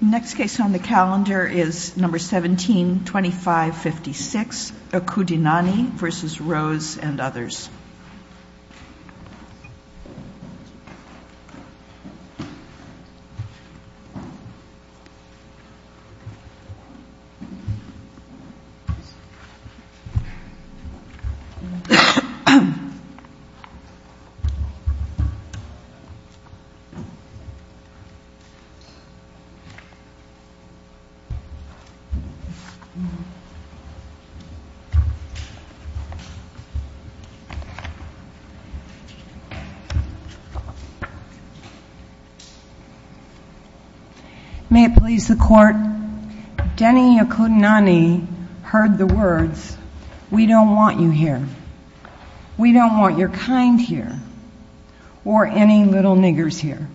Next case on the calendar is No. 17-2556, Okudinani v. Rose and others. May it please the court, Denny Okudinani heard the words, we don't want you here. We don't want your kind here. Or any little niggers here.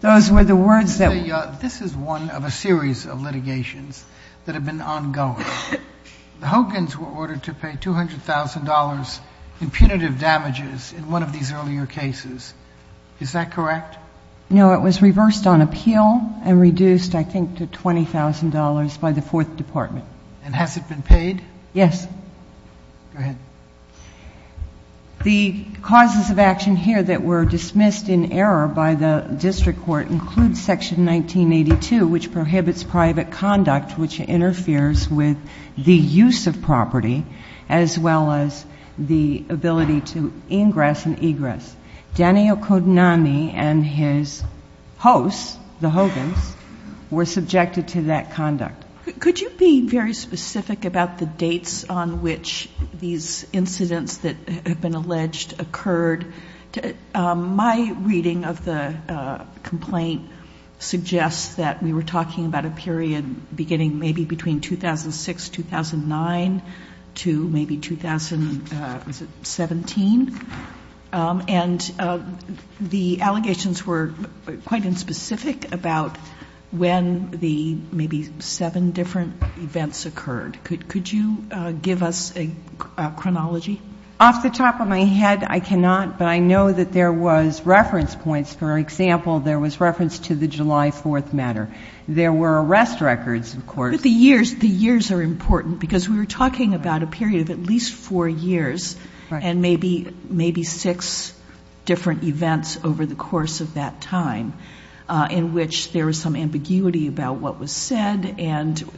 Those were the words that were used. This is one of a series of litigations that have been ongoing. The Hogans were ordered to pay $200,000 in punitive damages in one of these earlier cases. Is that correct? No. It was reversed on appeal and reduced, I think, to $20,000 by the Fourth Department. And has it been paid? Yes. Go ahead. The causes of action here that were dismissed in error by the district court include Section 1982, which prohibits private conduct which interferes with the use of property, as well as the ability to ingress and egress. Denny Okudinani and his hosts, the Hogans, were subjected to that conduct. Could you be very specific about the dates on which these incidents that have been alleged occurred? My reading of the complaint suggests that we were talking about a period beginning maybe between 2006, 2009 to maybe 2017. And the allegations were quite unspecific about when the maybe seven different events occurred. Could you give us a chronology? Off the top of my head, I cannot, but I know that there was reference points. For example, there was reference to the July 4th matter. There were arrest records, of course. The years are important because we were talking about a period of at least four years and maybe six different events over the course of that time in which there was some ambiguity about what was said, but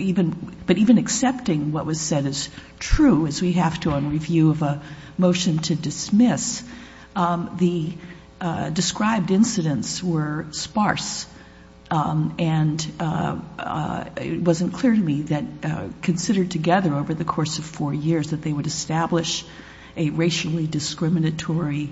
even accepting what was said as true, as we have to on review of a motion to dismiss, the described incidents were sparse. And it wasn't clear to me that considered together over the course of four years that they would establish a racially discriminatory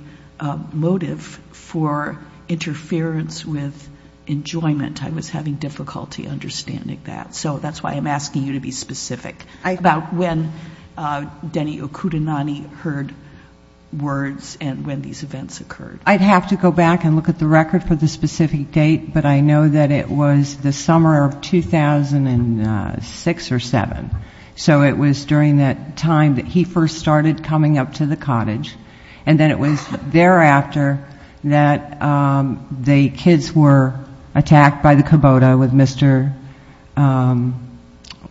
motive for interference with enjoyment. I was having difficulty understanding that. So that's why I'm asking you to be specific about when Denny Okudinani heard words and when these events occurred. I'd have to go back and look at the record for the specific date, but I know that it was the summer of 2006 or 7. So it was during that time that he first started coming up to the cottage and then it was thereafter that the kids were attacked by the Kubota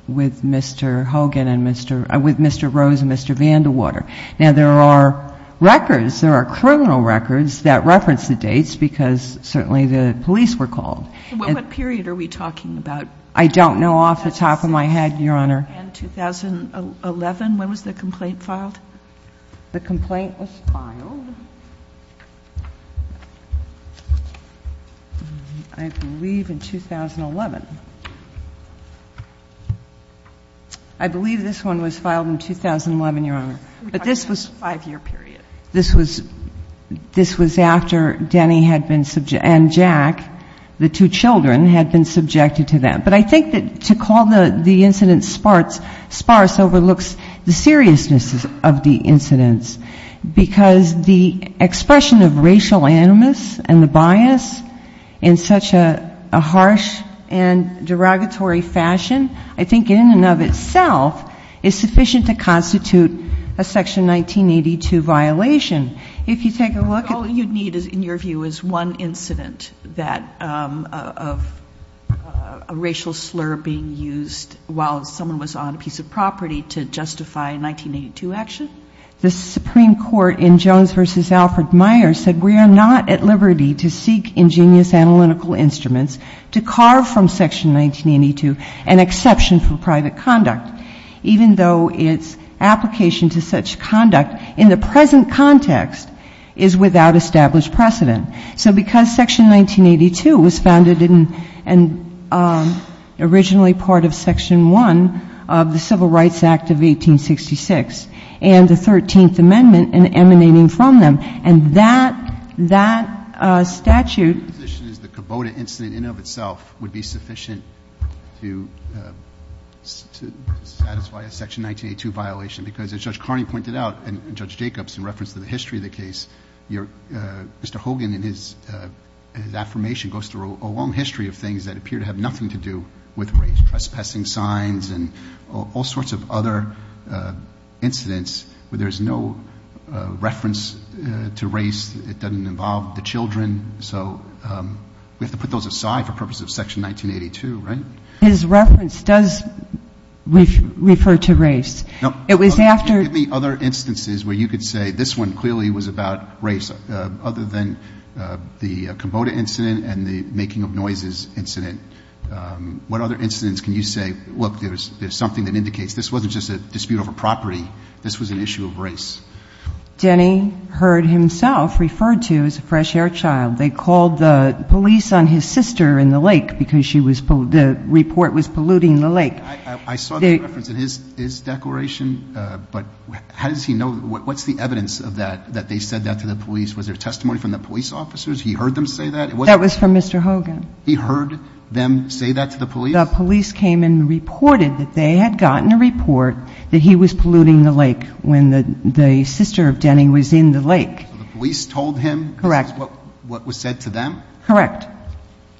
with Mr. Hogan and Mr. Rose and Mr. Vandewater. Now there are records, there are criminal records that reference the dates because certainly the police were called. What period are we talking about? I don't know off the top of my head, Your Honor. In 2011, when was the complaint filed? The complaint was filed, I believe in 2011. I believe this one was filed in 2011, Your Honor. But this was a five-year period. This was after Denny had been subjected, and Jack, the two children had been subjected to that. But I think that to call the incident sparse overlooks the seriousness of the incidents because the expression of racial animus and the bias in such a harsh and derogatory fashion, I think in and of itself is sufficient to constitute a Section 1982 violation. If you take a look at it. All you'd need, in your view, is one incident of a racial slur being used while someone was on a piece of property to justify a 1982 action? The Supreme Court in Jones v. Alfred Meyer said, we are not at liberty to seek ingenious analytical instruments to carve from Section 1982 an exception for private conduct, even though its application to such conduct in the present context is without established precedent. So because Section 1982 was founded and originally part of Section 1 of the Civil Rights Act of 1866 and the Thirteenth Amendment emanating from them, and that statute… I don't think it's a Section 1982 violation because, as Judge Carney pointed out and Judge Jacobs in reference to the history of the case, Mr. Hogan in his affirmation goes through a long history of things that appear to have nothing to do with race, trespassing signs and all sorts of other incidents where there's no reference to race, it doesn't involve the children. So we have to put those aside for purposes of Section 1982, right? His reference does refer to race. It was after… Give me other instances where you could say this one clearly was about race, other than the Komoda incident and the Making of Noises incident. What other incidents can you say, look, there's something that indicates this wasn't just a dispute over property, this was an issue of race? Denny heard himself referred to as a fresh air child. They called the police on his sister in the lake because she was… the report was polluting the lake. I saw the reference in his declaration, but how does he know… what's the evidence of that, that they said that to the police? Was there testimony from the police officers? He heard them say that? That was from Mr. Hogan. He heard them say that to the police? The police came and reported that they had gotten a report that he was polluting the lake when the sister of Denny was in the lake. So the police told him… Correct.… that was what was said to them? Correct.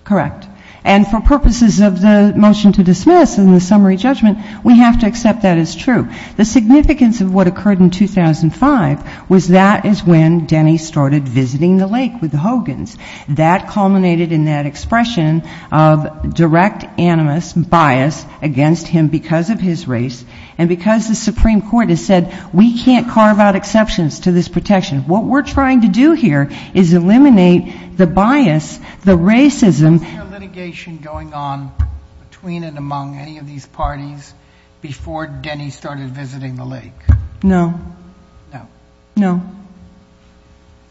Correct. And for purposes of the motion to dismiss and the summary judgment, we have to accept that as true. The significance of what occurred in 2005 was that is when Denny started visiting the lake with the Hogans. That culminated in that expression of direct animus, bias, against him because of his race and because the Supreme Court has said we can't carve out exceptions to this protection. What we're trying to do here is eliminate the bias, the racism… Was there litigation going on between and among any of these parties before Denny started visiting the lake? No. No. No.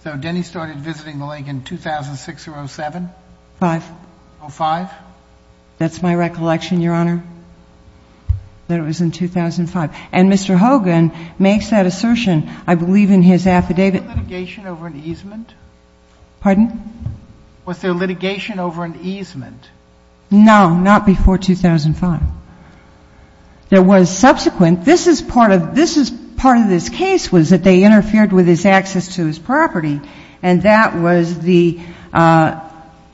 So Denny started visiting the lake in 2006 or 07? 05. 05? That's my recollection, Your Honor, that it was in 2005. And Mr. Hogan makes that assertion, I believe, in his affidavit… Was there litigation over an easement? Pardon? Was there litigation over an easement? No. Not before 2005. There was subsequent. This is part of this case was that they interfered with his access to his property. And that was the…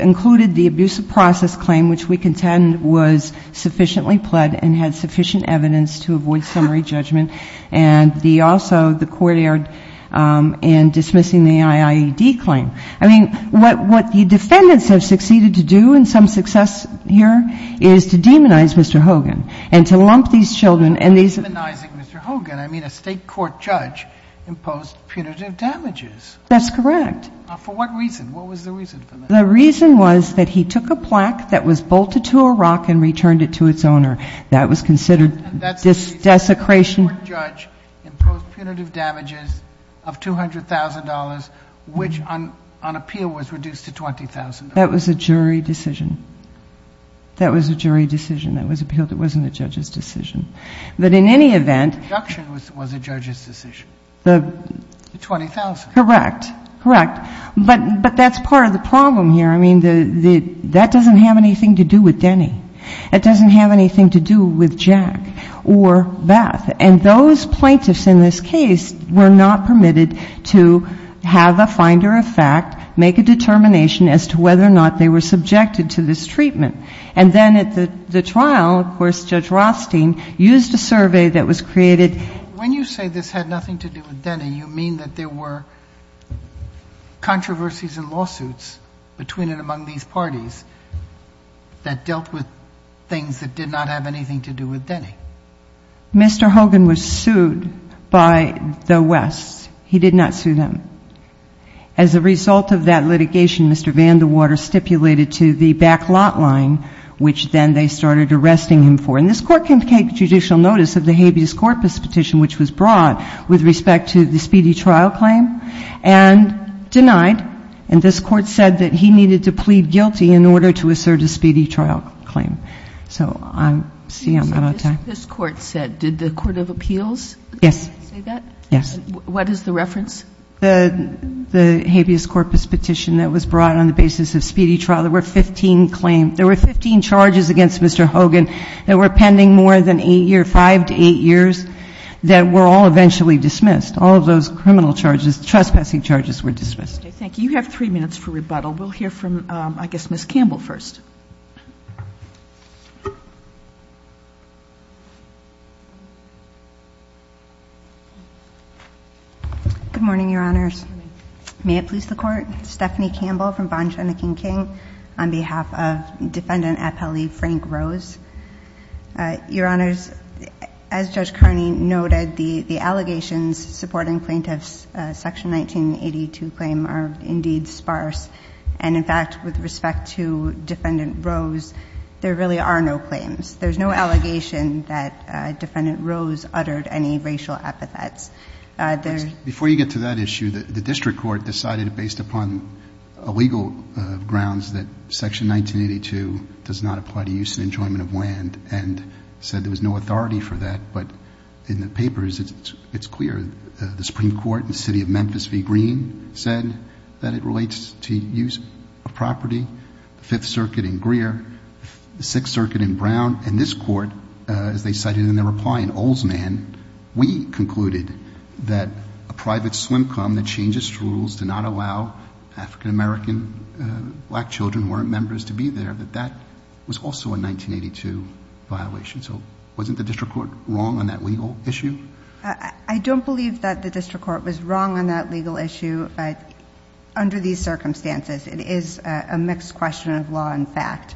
included the abusive process claim, which we contend was sufficiently pled and had sufficient evidence to avoid summary judgment. And also, the court erred in dismissing the IIED claim. I mean, what the defendants have succeeded to do in some success here is to demonize Mr. Hogan and to lump these children… By demonizing Mr. Hogan, I mean a state court judge imposed punitive damages. That's correct. For what reason? What was the reason for that? The reason was that he took a plaque that was bolted to a rock and returned it to its owner. That was considered desecration. And that state court judge imposed punitive damages of $200,000, which on appeal was reduced to $20,000. That was a jury decision. That was a jury decision that was appealed. It wasn't a judge's decision. But in any event… The deduction was a judge's decision. The $20,000. Correct. Correct. But that's part of the problem here. I mean, that doesn't have anything to do with Denny. It doesn't have anything to do with Jack or Beth. And those plaintiffs in this case were not permitted to have a finder of fact, make a determination as to whether or not they were subjected to this treatment. And then at the trial, of course, Judge Rothstein used a survey that was created… There were controversies and lawsuits between and among these parties that dealt with things that did not have anything to do with Denny. Mr. Hogan was sued by the West. He did not sue them. As a result of that litigation, Mr. Vandewater stipulated to the backlot line, which then they started arresting him for. And this Court can take judicial notice of the habeas corpus petition, which was brought with respect to the speedy trial claim, and denied. And this Court said that he needed to plead guilty in order to assert a speedy trial claim. So I see I'm out of time. This Court said. Did the Court of Appeals say that? Yes. What is the reference? The habeas corpus petition that was brought on the basis of speedy trial. There were 15 claims. There were 15 charges against Mr. Hogan that were pending more than 8 years, 5 to 8 years, that were all eventually dismissed. All of those criminal charges, trespassing charges were dismissed. Okay. Thank you. You have 3 minutes for rebuttal. We'll hear from, I guess, Ms. Campbell first. Good morning, Your Honors. May it please the Court? Stephanie Campbell from Bond, Shen, and King, on behalf of Defendant Appellee Frank Rose. I'm a lawyer. I'm a lawyer. I'm a lawyer. I'm a lawyer. I'm a lawyer. I'm a lawyer. I'm a lawyer. Mr. Hogan, as Stephanie noted, the allegations supporting plaintiff's Section 1982 claim are indeed sparse. In fact, with respect to Defendant Rose, there really are no claims. There is no allegation that Defendant Rose uttered any racial epithets. Before you get to that issue, the district court decided that based upon legal grounds that Section 1982 does not apply to use and enjoyment of land, and said there was no authority for that, but in the papers, it's clear, the Supreme Court in the city of Memphis v. Green said that it relates to use of property, the Fifth Circuit in Greer, the Sixth Circuit in Brown, and this court, as they cited in their reply in Oldsman, we concluded that a private slim-cum that changes rules to not allow African-American black children who aren't members to be there, that that was also a 1982 violation. So wasn't the district court wrong on that legal issue? I don't believe that the district court was wrong on that legal issue, but under these circumstances, it is a mixed question of law and fact,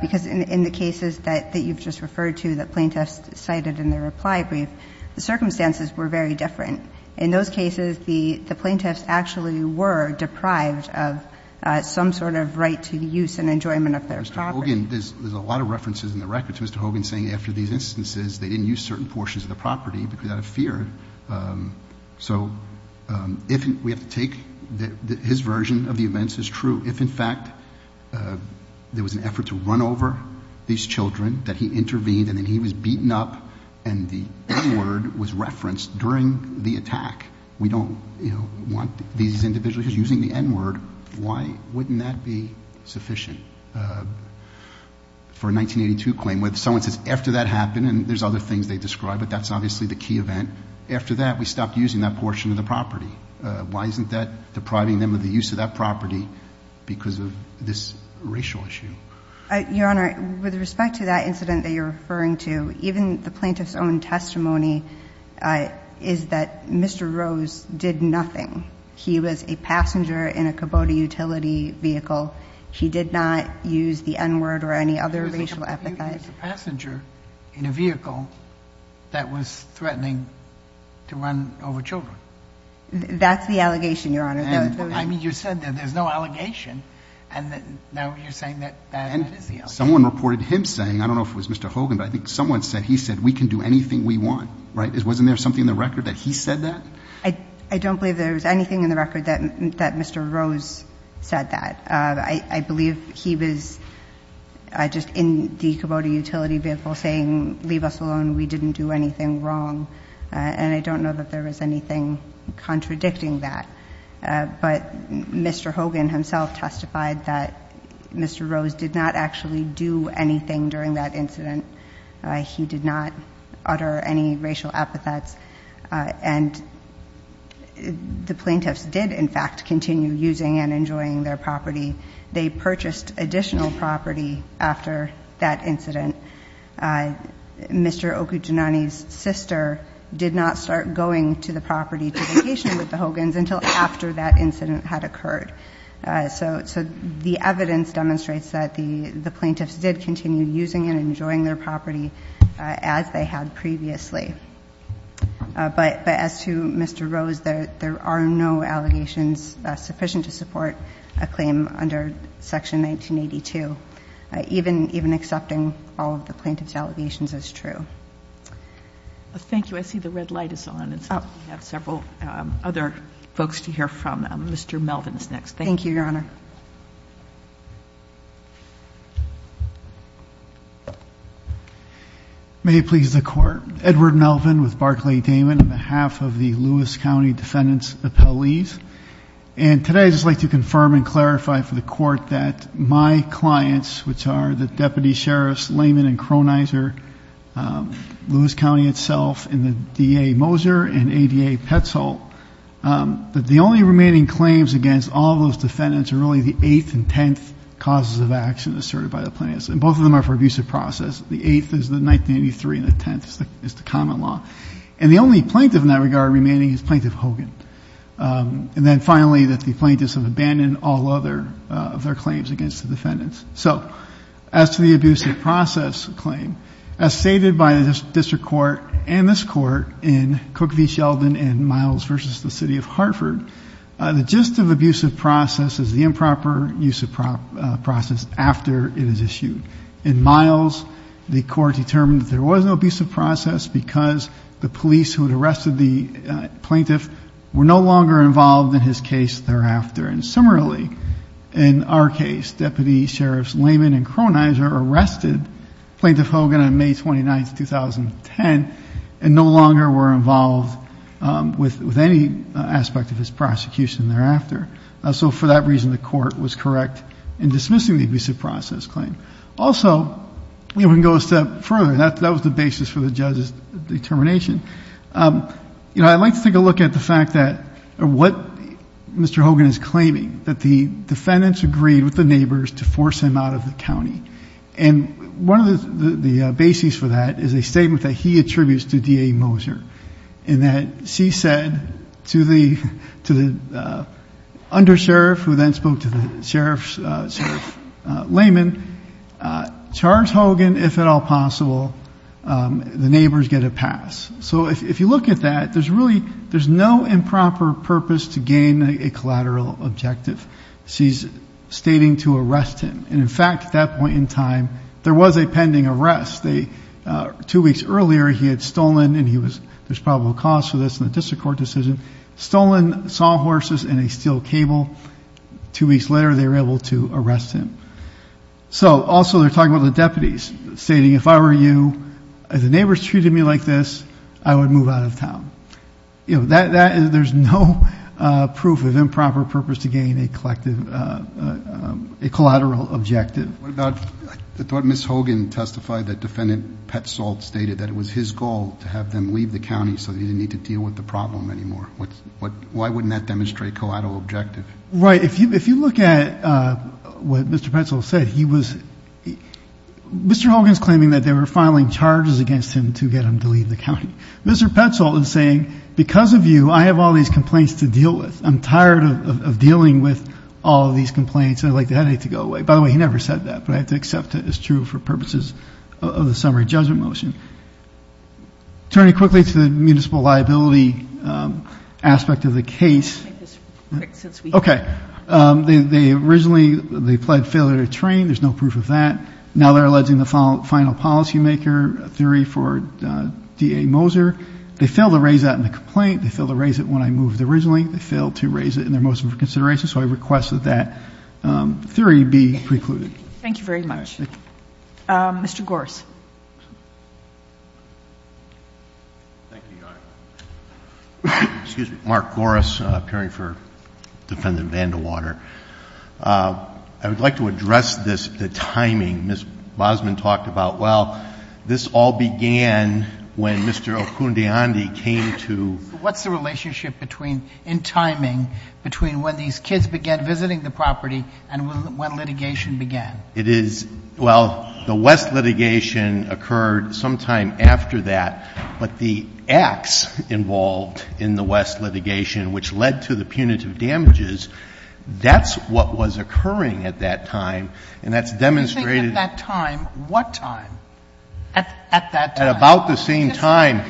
because in the cases that you've just referred to, the plaintiffs cited in their reply brief, the circumstances were very different. In those cases, the plaintiffs actually were deprived of some sort of right to use and enjoyment of their property. Mr. Hogan, there's a lot of references in the records. I think that, in fact, Mr. Hogan's saying after these instances, they didn't use certain portions of the property because out of fear. So if we have to take his version of the events is true, if, in fact, there was an effort to run over these children, that he intervened and then he was beaten up and the N-word was referenced during the attack, we don't want these individuals using the N-word, why wouldn't that be sufficient? For a 1982 claim, when someone says, after that happened, and there's other things they describe, but that's obviously the key event, after that, we stopped using that portion of the property. Why isn't that depriving them of the use of that property because of this racial issue? Your Honor, with respect to that incident that you're referring to, even the plaintiff's own testimony is that Mr. Rose did nothing. He was a passenger in a Kubota utility vehicle. He did not use the N-word or any other racial epithets. He was a passenger in a vehicle that was threatening to run over children. That's the allegation, Your Honor. I mean, you said that there's no allegation, and now you're saying that that is the allegation. And someone reported him saying, I don't know if it was Mr. Hogan, but I think someone said he said, we can do anything we want, right? Wasn't there something in the record that he said that? I don't believe there was anything in the record that Mr. Rose said that. I believe he was just in the Kubota utility vehicle saying, leave us alone. We didn't do anything wrong. And I don't know that there was anything contradicting that. But Mr. Hogan himself testified that Mr. Rose did not actually do anything during that incident. He did not utter any racial epithets. And the plaintiffs did, in fact, continue using and enjoying their property. They purchased additional property after that incident. Mr. Okudinani's sister did not start going to the property to vacation with the Hogan's until after that incident had occurred. So the evidence demonstrates that the plaintiffs did continue using and enjoying their property as they had previously. But as to Mr. Rose, there are no allegations sufficient to support a claim under section 1982. Even accepting all of the plaintiff's allegations is true. Thank you. I see the red light is on. And so we have several other folks to hear from. Mr. Melvin's next. May it please the court. Edward Melvin with Barclay-Damon on behalf of the Lewis County Defendants Appellees. And today I'd just like to confirm and clarify for the court that my clients, which are the Deputy Sheriffs Layman and Cronizer, Lewis County itself, and the DA Moser and ADA Petzold. That the only remaining claims against all those defendants are really the eighth and tenth causes of action asserted by the plaintiffs. And both of them are for abusive process. The eighth is the 1983 and the tenth is the common law. And the only plaintiff in that regard remaining is Plaintiff Hogan. And then finally that the plaintiffs have abandoned all other of their claims against the defendants. So, as to the abusive process claim, as stated by this district court and this court in Cook v. Sheldon and Miles v. the City of Hartford. The gist of abusive process is the improper use of process after it is issued. In Miles, the court determined that there was no abusive process because the police who had arrested the plaintiff were no longer involved in his case thereafter. And similarly, in our case, Deputy Sheriffs Layman and Cronizer arrested Plaintiff Hogan on May 29th, 2010 and no longer were involved with any aspect of his prosecution thereafter. So for that reason, the court was correct in dismissing the abusive process claim. Also, we can go a step further, that was the basis for the judge's determination. I'd like to take a look at the fact that what Mr. Hogan is claiming, that the defendants agreed with the neighbors to force him out of the county. And one of the bases for that is a statement that he attributes to DA Moser. And that she said to the undersheriff, who then spoke to the Sheriff Layman, Charles Hogan, if at all possible, the neighbors get a pass. So if you look at that, there's no improper purpose to gain a collateral objective. She's stating to arrest him. And in fact, at that point in time, there was a pending arrest. Two weeks earlier, he had stolen, and there's probable cause for this in the district court decision, stolen sawhorses and a steel cable, two weeks later, they were able to arrest him. So also, they're talking about the deputies, stating, if I were you, if the neighbors treated me like this, I would move out of town. There's no proof of improper purpose to gain a collateral objective. What about, I thought Ms. Hogan testified that Defendant Petzold stated that it was his goal to have them leave the county, so that he didn't need to deal with the problem anymore. Why wouldn't that demonstrate collateral objective? Right, if you look at what Mr. Petzold said, he was, Mr. Hogan's claiming that they were filing charges against him to get him to leave the county. Mr. Petzold is saying, because of you, I have all these complaints to deal with. I'm tired of dealing with all of these complaints, and I'd like the headache to go away. By the way, he never said that, but I have to accept it as true for purposes of the summary judgment motion. Turning quickly to the municipal liability aspect of the case. Okay, they originally, they pled failure to train. There's no proof of that. Now they're alleging the final policy maker, a theory for DA Moser. They failed to raise that in the complaint. They failed to raise it when I moved originally. They failed to raise it in their motion for consideration. So I request that that theory be precluded. Thank you very much. Mr. Gores. Thank you, Your Honor. Excuse me. Mark Gores, appearing for defendant Vandewater. I would like to address this, the timing. Ms. Bosman talked about, well, this all began when Mr. Okundiandi came to- What's the relationship between, in timing, between when these kids began visiting the property and when litigation began? It is, well, the West litigation occurred sometime after that, but the acts involved in the West litigation, which led to the punitive damages, that's what was occurring at that time, and that's demonstrated- You think at that time, what time? At that time. At about the same time.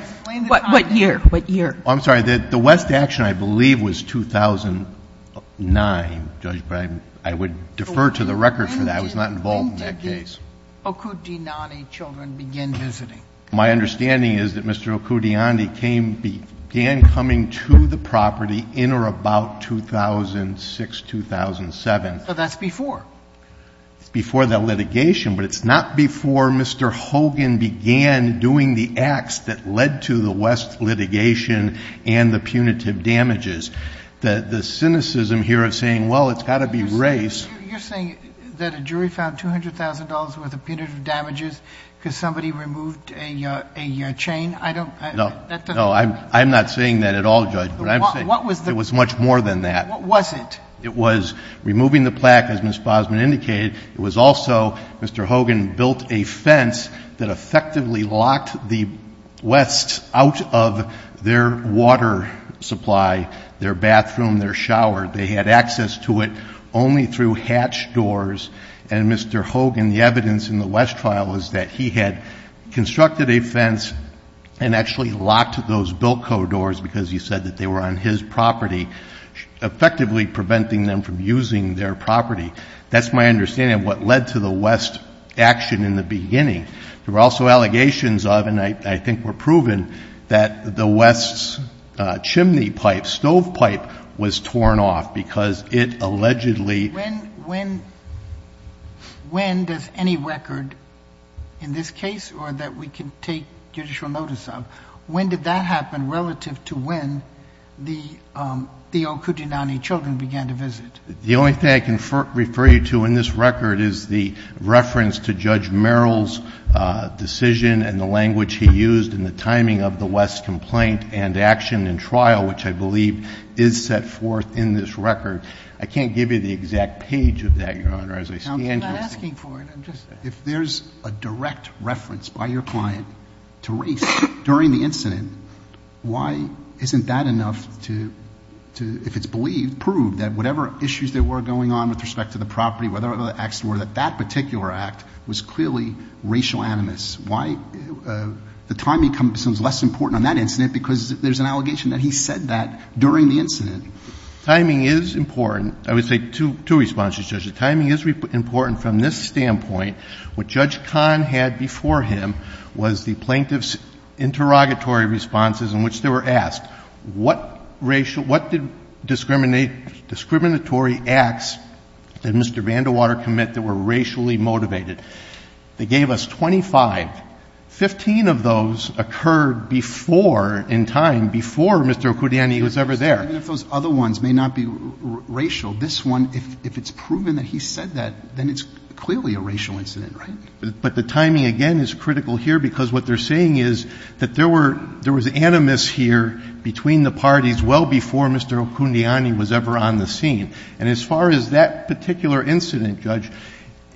What year? What year? I'm sorry, the West action, I believe, was 2009, Judge, but I would defer to the record for that. I was not involved in that case. When did the Okundiandi children begin visiting? My understanding is that Mr. Okundiandi began coming to the property in or about 2006, 2007. So that's before. It's before that litigation, but it's not before Mr. Hogan began doing the acts that led to the West litigation and the punitive damages. The cynicism here of saying, well, it's got to be race- You're saying that a jury found $200,000 worth of punitive damages because somebody removed a chain? I don't- No. No, I'm not saying that at all, Judge. What I'm saying- What was the- It was much more than that. What was it? It was removing the plaque, as Ms. Bosman indicated. It was also, Mr. Hogan built a fence that effectively locked the West out of their water supply, their bathroom, their shower. They had access to it only through hatch doors. And Mr. Hogan, the evidence in the West trial is that he had constructed a fence and actually locked those Bilko doors because he said that they were on his property, effectively preventing them from using their property. That's my understanding of what led to the West action in the beginning. There were also allegations of, and I think were proven, that the West's chimney pipe, stove pipe, was torn off because it allegedly- When does any record in this case or that we can take judicial notice of, when did that happen relative to when the Okudinani children began to visit? The only thing I can refer you to in this record is the reference to Judge Merrill's decision and the language he used in the timing of the West's complaint and action in trial, which I believe is set forth in this record. I can't give you the exact page of that, Your Honor, as I stand here. I'm not asking for it. I'm just asking. If there's a direct reference by your client to race during the incident, why isn't that enough to, if it's believed, prove that whatever issues there were going on with respect to the property, whether or not the acts were, that that particular act was clearly racial animus? Why, the timing seems less important on that incident because there's an allegation that he said that during the incident. Timing is important. I would say two responses, Judge. The timing is important from this standpoint. What Judge Kahn had before him was the plaintiff's interrogatory responses in which they were asked, what did discriminatory acts did Mr. Vandewater commit that were racially motivated? They gave us 25, 15 of those occurred before, in time, before Mr. Okudinani was ever there. Even if those other ones may not be racial, this one, if it's proven that he said that, then it's clearly a racial incident, right? But the timing, again, is critical here because what they're saying is that there was animus here between the parties well before Mr. Okudinani was ever on the scene. And as far as that particular incident, Judge,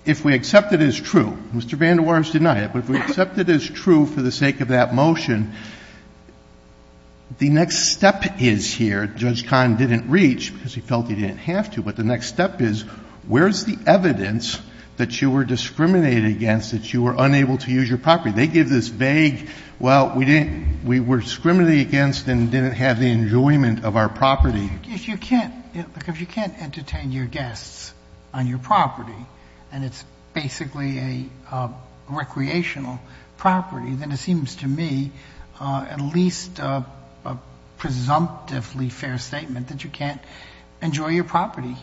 if we accept it as true, Mr. Vandewater's denied it. But if we accept it as true for the sake of that motion, the next step is here. Judge Kahn didn't reach because he felt he didn't have to. But the next step is, where's the evidence that you were discriminated against, that you were unable to use your property? They give this vague, well, we were discriminated against and didn't have the enjoyment of our property. If you can't entertain your guests on your property and it's basically a recreational property, then it seems to me at least a presumptively fair statement that you can't enjoy your property.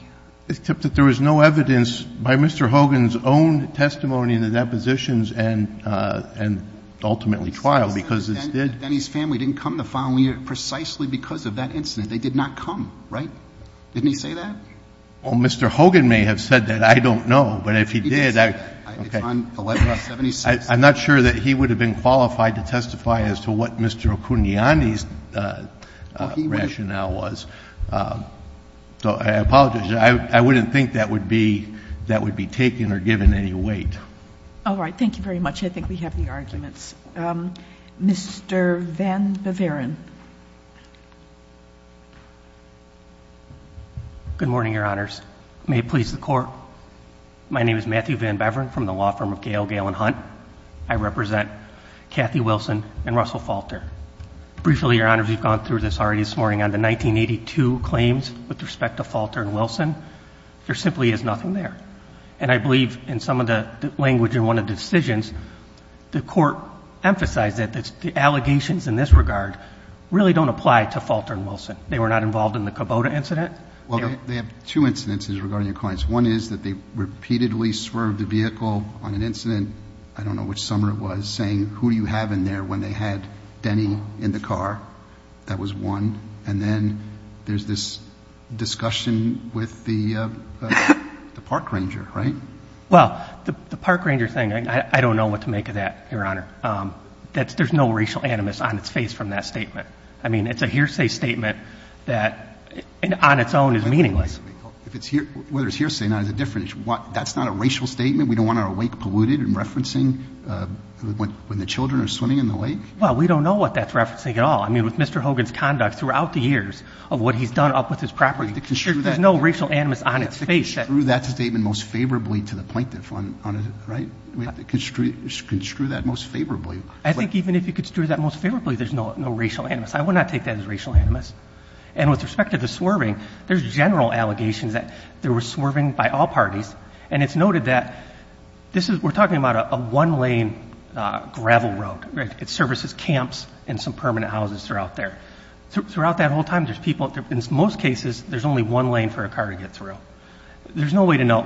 Except that there was no evidence by Mr. Hogan's own testimony in the depositions and ultimately trial because it's dead. And his family didn't come the following year precisely because of that incident. They did not come, right? Didn't he say that? Well, Mr. Hogan may have said that, I don't know. But if he did, I'm not sure that he would have been qualified to testify as to what Mr. Okudinani's rationale was. So I apologize, I wouldn't think that would be taken or given any weight. All right, thank you very much. I think we have the arguments. Mr. Van Beveren. Good morning, your honors. May it please the court. My name is Matthew Van Beveren from the law firm of Gail, Gail, and Hunt. I represent Kathy Wilson and Russell Falter. Briefly, your honors, we've gone through this already this morning on the 1982 claims with respect to Falter and Wilson. There simply is nothing there. And I believe in some of the language in one of the decisions, the court emphasized that the allegations in this regard really don't apply to Falter and Wilson. They were not involved in the Kubota incident. Well, they have two incidences regarding your clients. One is that they repeatedly swerved the vehicle on an incident, I don't know which summer it was, saying who do you have in there when they had Denny in the car? That was one. And then there's this discussion with the park ranger, right? Well, the park ranger thing, I don't know what to make of that, your honor. There's no racial animus on its face from that statement. I mean, it's a hearsay statement that on its own is meaningless. Whether it's hearsay or not is a different issue. That's not a racial statement? We don't want our lake polluted and referencing when the children are swimming in the lake? Well, we don't know what that's referencing at all. I mean, with Mr. Hogan's conduct throughout the years of what he's done up with his property, there's no racial animus on its face. To construe that statement most favorably to the plaintiff, right? We have to construe that most favorably. I think even if you construe that most favorably, there's no racial animus. I would not take that as racial animus. And with respect to the swerving, there's general allegations that there was swerving by all parties. And it's noted that this is, we're talking about a one lane gravel road, right? It services camps and some permanent houses throughout there. Throughout that whole time, there's people, in most cases, there's only one lane for a car to get through. There's no way to know.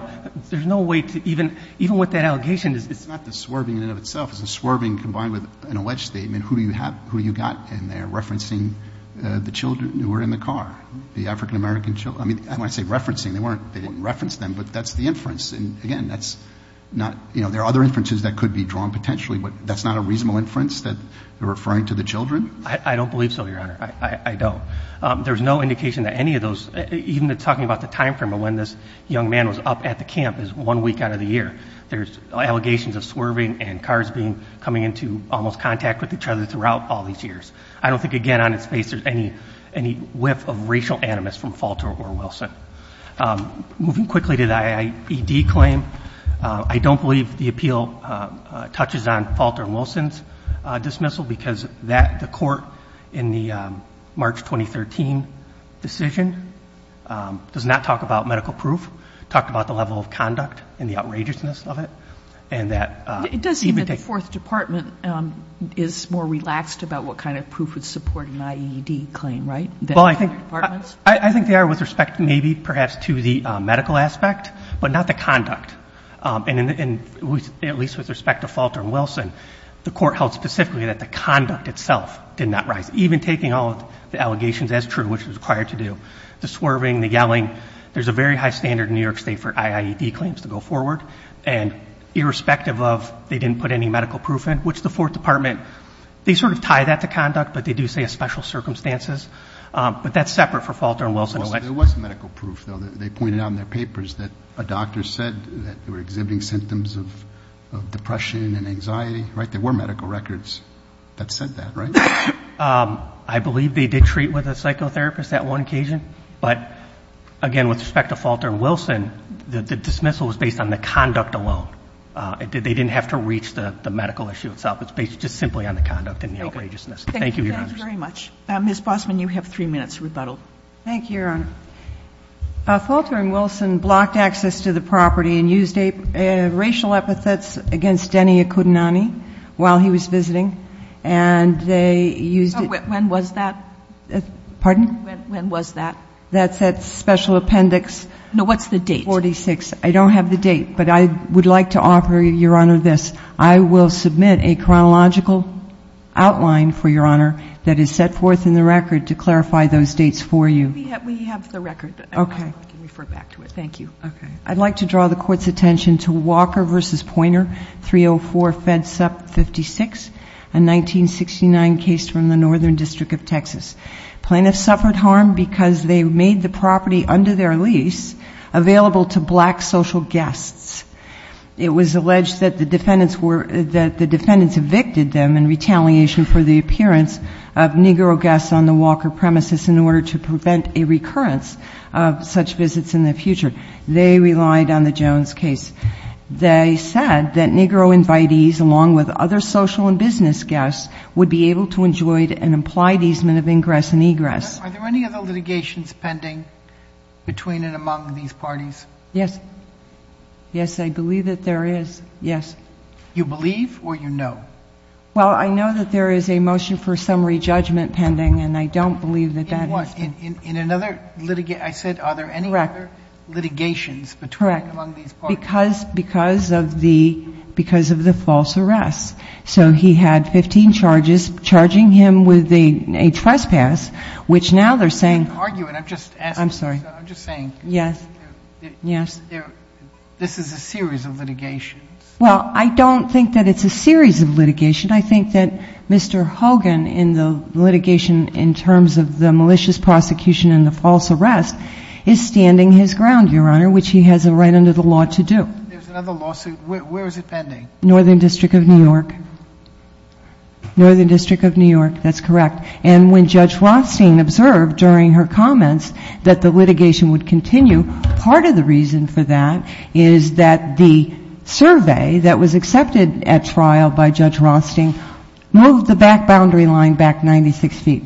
There's no way to, even with that allegation, it's not the swerving in and of itself. It's the swerving combined with an alleged statement, who you got in there, referencing the children who were in the car. The African American children, I mean, when I say referencing, they didn't reference them, but that's the inference. And again, that's not, there are other inferences that could be drawn potentially, but that's not a reasonable inference that you're referring to the children? I don't believe so, Your Honor, I don't. There's no indication that any of those, even talking about the time frame of when this young man was up at the camp is one week out of the year. There's allegations of swerving and cars coming into almost contact with each other throughout all these years. I don't think, again, on its face, there's any whiff of racial animus from Falter or Wilson. Moving quickly to the IAED claim, I don't believe the appeal touches on Falter and Wilson's dismissal, because the court in the March 2013 decision does not talk about medical proof, talked about the level of conduct and the outrageousness of it. And that- It does seem that the fourth department is more relaxed about what kind of proof would support an IAED claim, right? Well, I think they are with respect maybe, perhaps, to the medical aspect, but not the conduct. And at least with respect to Falter and Wilson, the court held specifically that the conduct itself did not rise. Even taking all of the allegations as true, which was required to do, the swerving, the yelling, there's a very high standard in New York State for IAED claims to go forward. And irrespective of, they didn't put any medical proof in, which the fourth department, they sort of tie that to conduct, but they do say special circumstances, but that's separate for Falter and Wilson. There was medical proof, though. They pointed out in their papers that a doctor said that they were exhibiting symptoms of depression and anxiety, right? There were medical records that said that, right? I believe they did treat with a psychotherapist at one occasion. But again, with respect to Falter and Wilson, the dismissal was based on the conduct alone. They didn't have to reach the medical issue itself. It's based just simply on the conduct and the egregiousness. Thank you, Your Honors. Thank you very much. Ms. Bossman, you have three minutes to rebuttal. Thank you, Your Honor. Falter and Wilson blocked access to the property and used racial epithets against Denny Akudinani while he was visiting. And they used- When was that? Pardon? When was that? That's that special appendix. No, what's the date? 46. I don't have the date, but I would like to offer Your Honor this. I will submit a chronological outline for Your Honor that is set forth in the record to clarify those dates for you. We have the record. Okay. You can refer back to it. Thank you. I'd like to draw the court's attention to Walker v. Pointer, 304 Fed Sup 56, a 1969 case from the Northern District of Texas. Plaintiffs suffered harm because they made the property under their lease available to black social guests. It was alleged that the defendants evicted them in retaliation for the appearance of Negro guests on the Walker premises in order to prevent a recurrence of such visits in the future. They relied on the Jones case. They said that Negro invitees, along with other social and business guests, would be able to enjoy an implied easement of ingress and egress. Are there any other litigations pending between and among these parties? Yes, yes, I believe that there is, yes. You believe or you know? Well, I know that there is a motion for summary judgment pending, and I don't believe that that is. In another, I said, are there any other litigations between and among these parties? Correct, because of the false arrests. So he had 15 charges, charging him with a trespass, which now they're saying. Argue it, I'm just asking. I'm sorry. I'm just saying. Yes, yes. This is a series of litigations. Well, I don't think that it's a series of litigation. I think that Mr. Hogan, in the litigation in terms of the malicious prosecution and the false arrest, is standing his ground, Your Honor, which he has a right under the law to do. There's another lawsuit, where is it pending? Northern District of New York. Northern District of New York, that's correct. And when Judge Rothstein observed during her comments that the litigation would continue, part of the reason for that is that the survey that was accepted at trial by Judge Rothstein moved the back boundary line back 96 feet,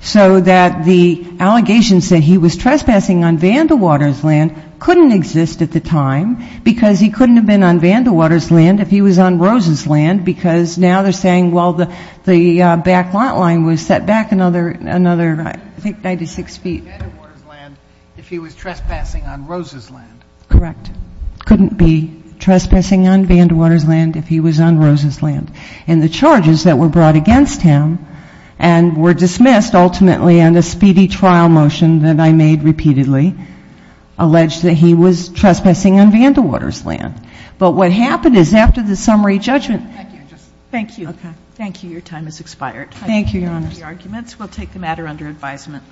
so that the allegations that he was trespassing on Vanderwater's land couldn't exist at the time, because he couldn't have been on Vanderwater's land if he was on Rose's land, because now they're saying, well, the back lot line was set back another, I think, 96 feet. He couldn't be on Vanderwater's land if he was trespassing on Rose's land. Correct. Couldn't be trespassing on Vanderwater's land if he was on Rose's land. And the charges that were brought against him and were dismissed ultimately on the speedy trial motion that I made repeatedly, alleged that he was trespassing on Vanderwater's land. But what happened is, after the summary judgment. Thank you. Thank you. Your time has expired. Thank you, Your Honor. The arguments will take the matter under advisement.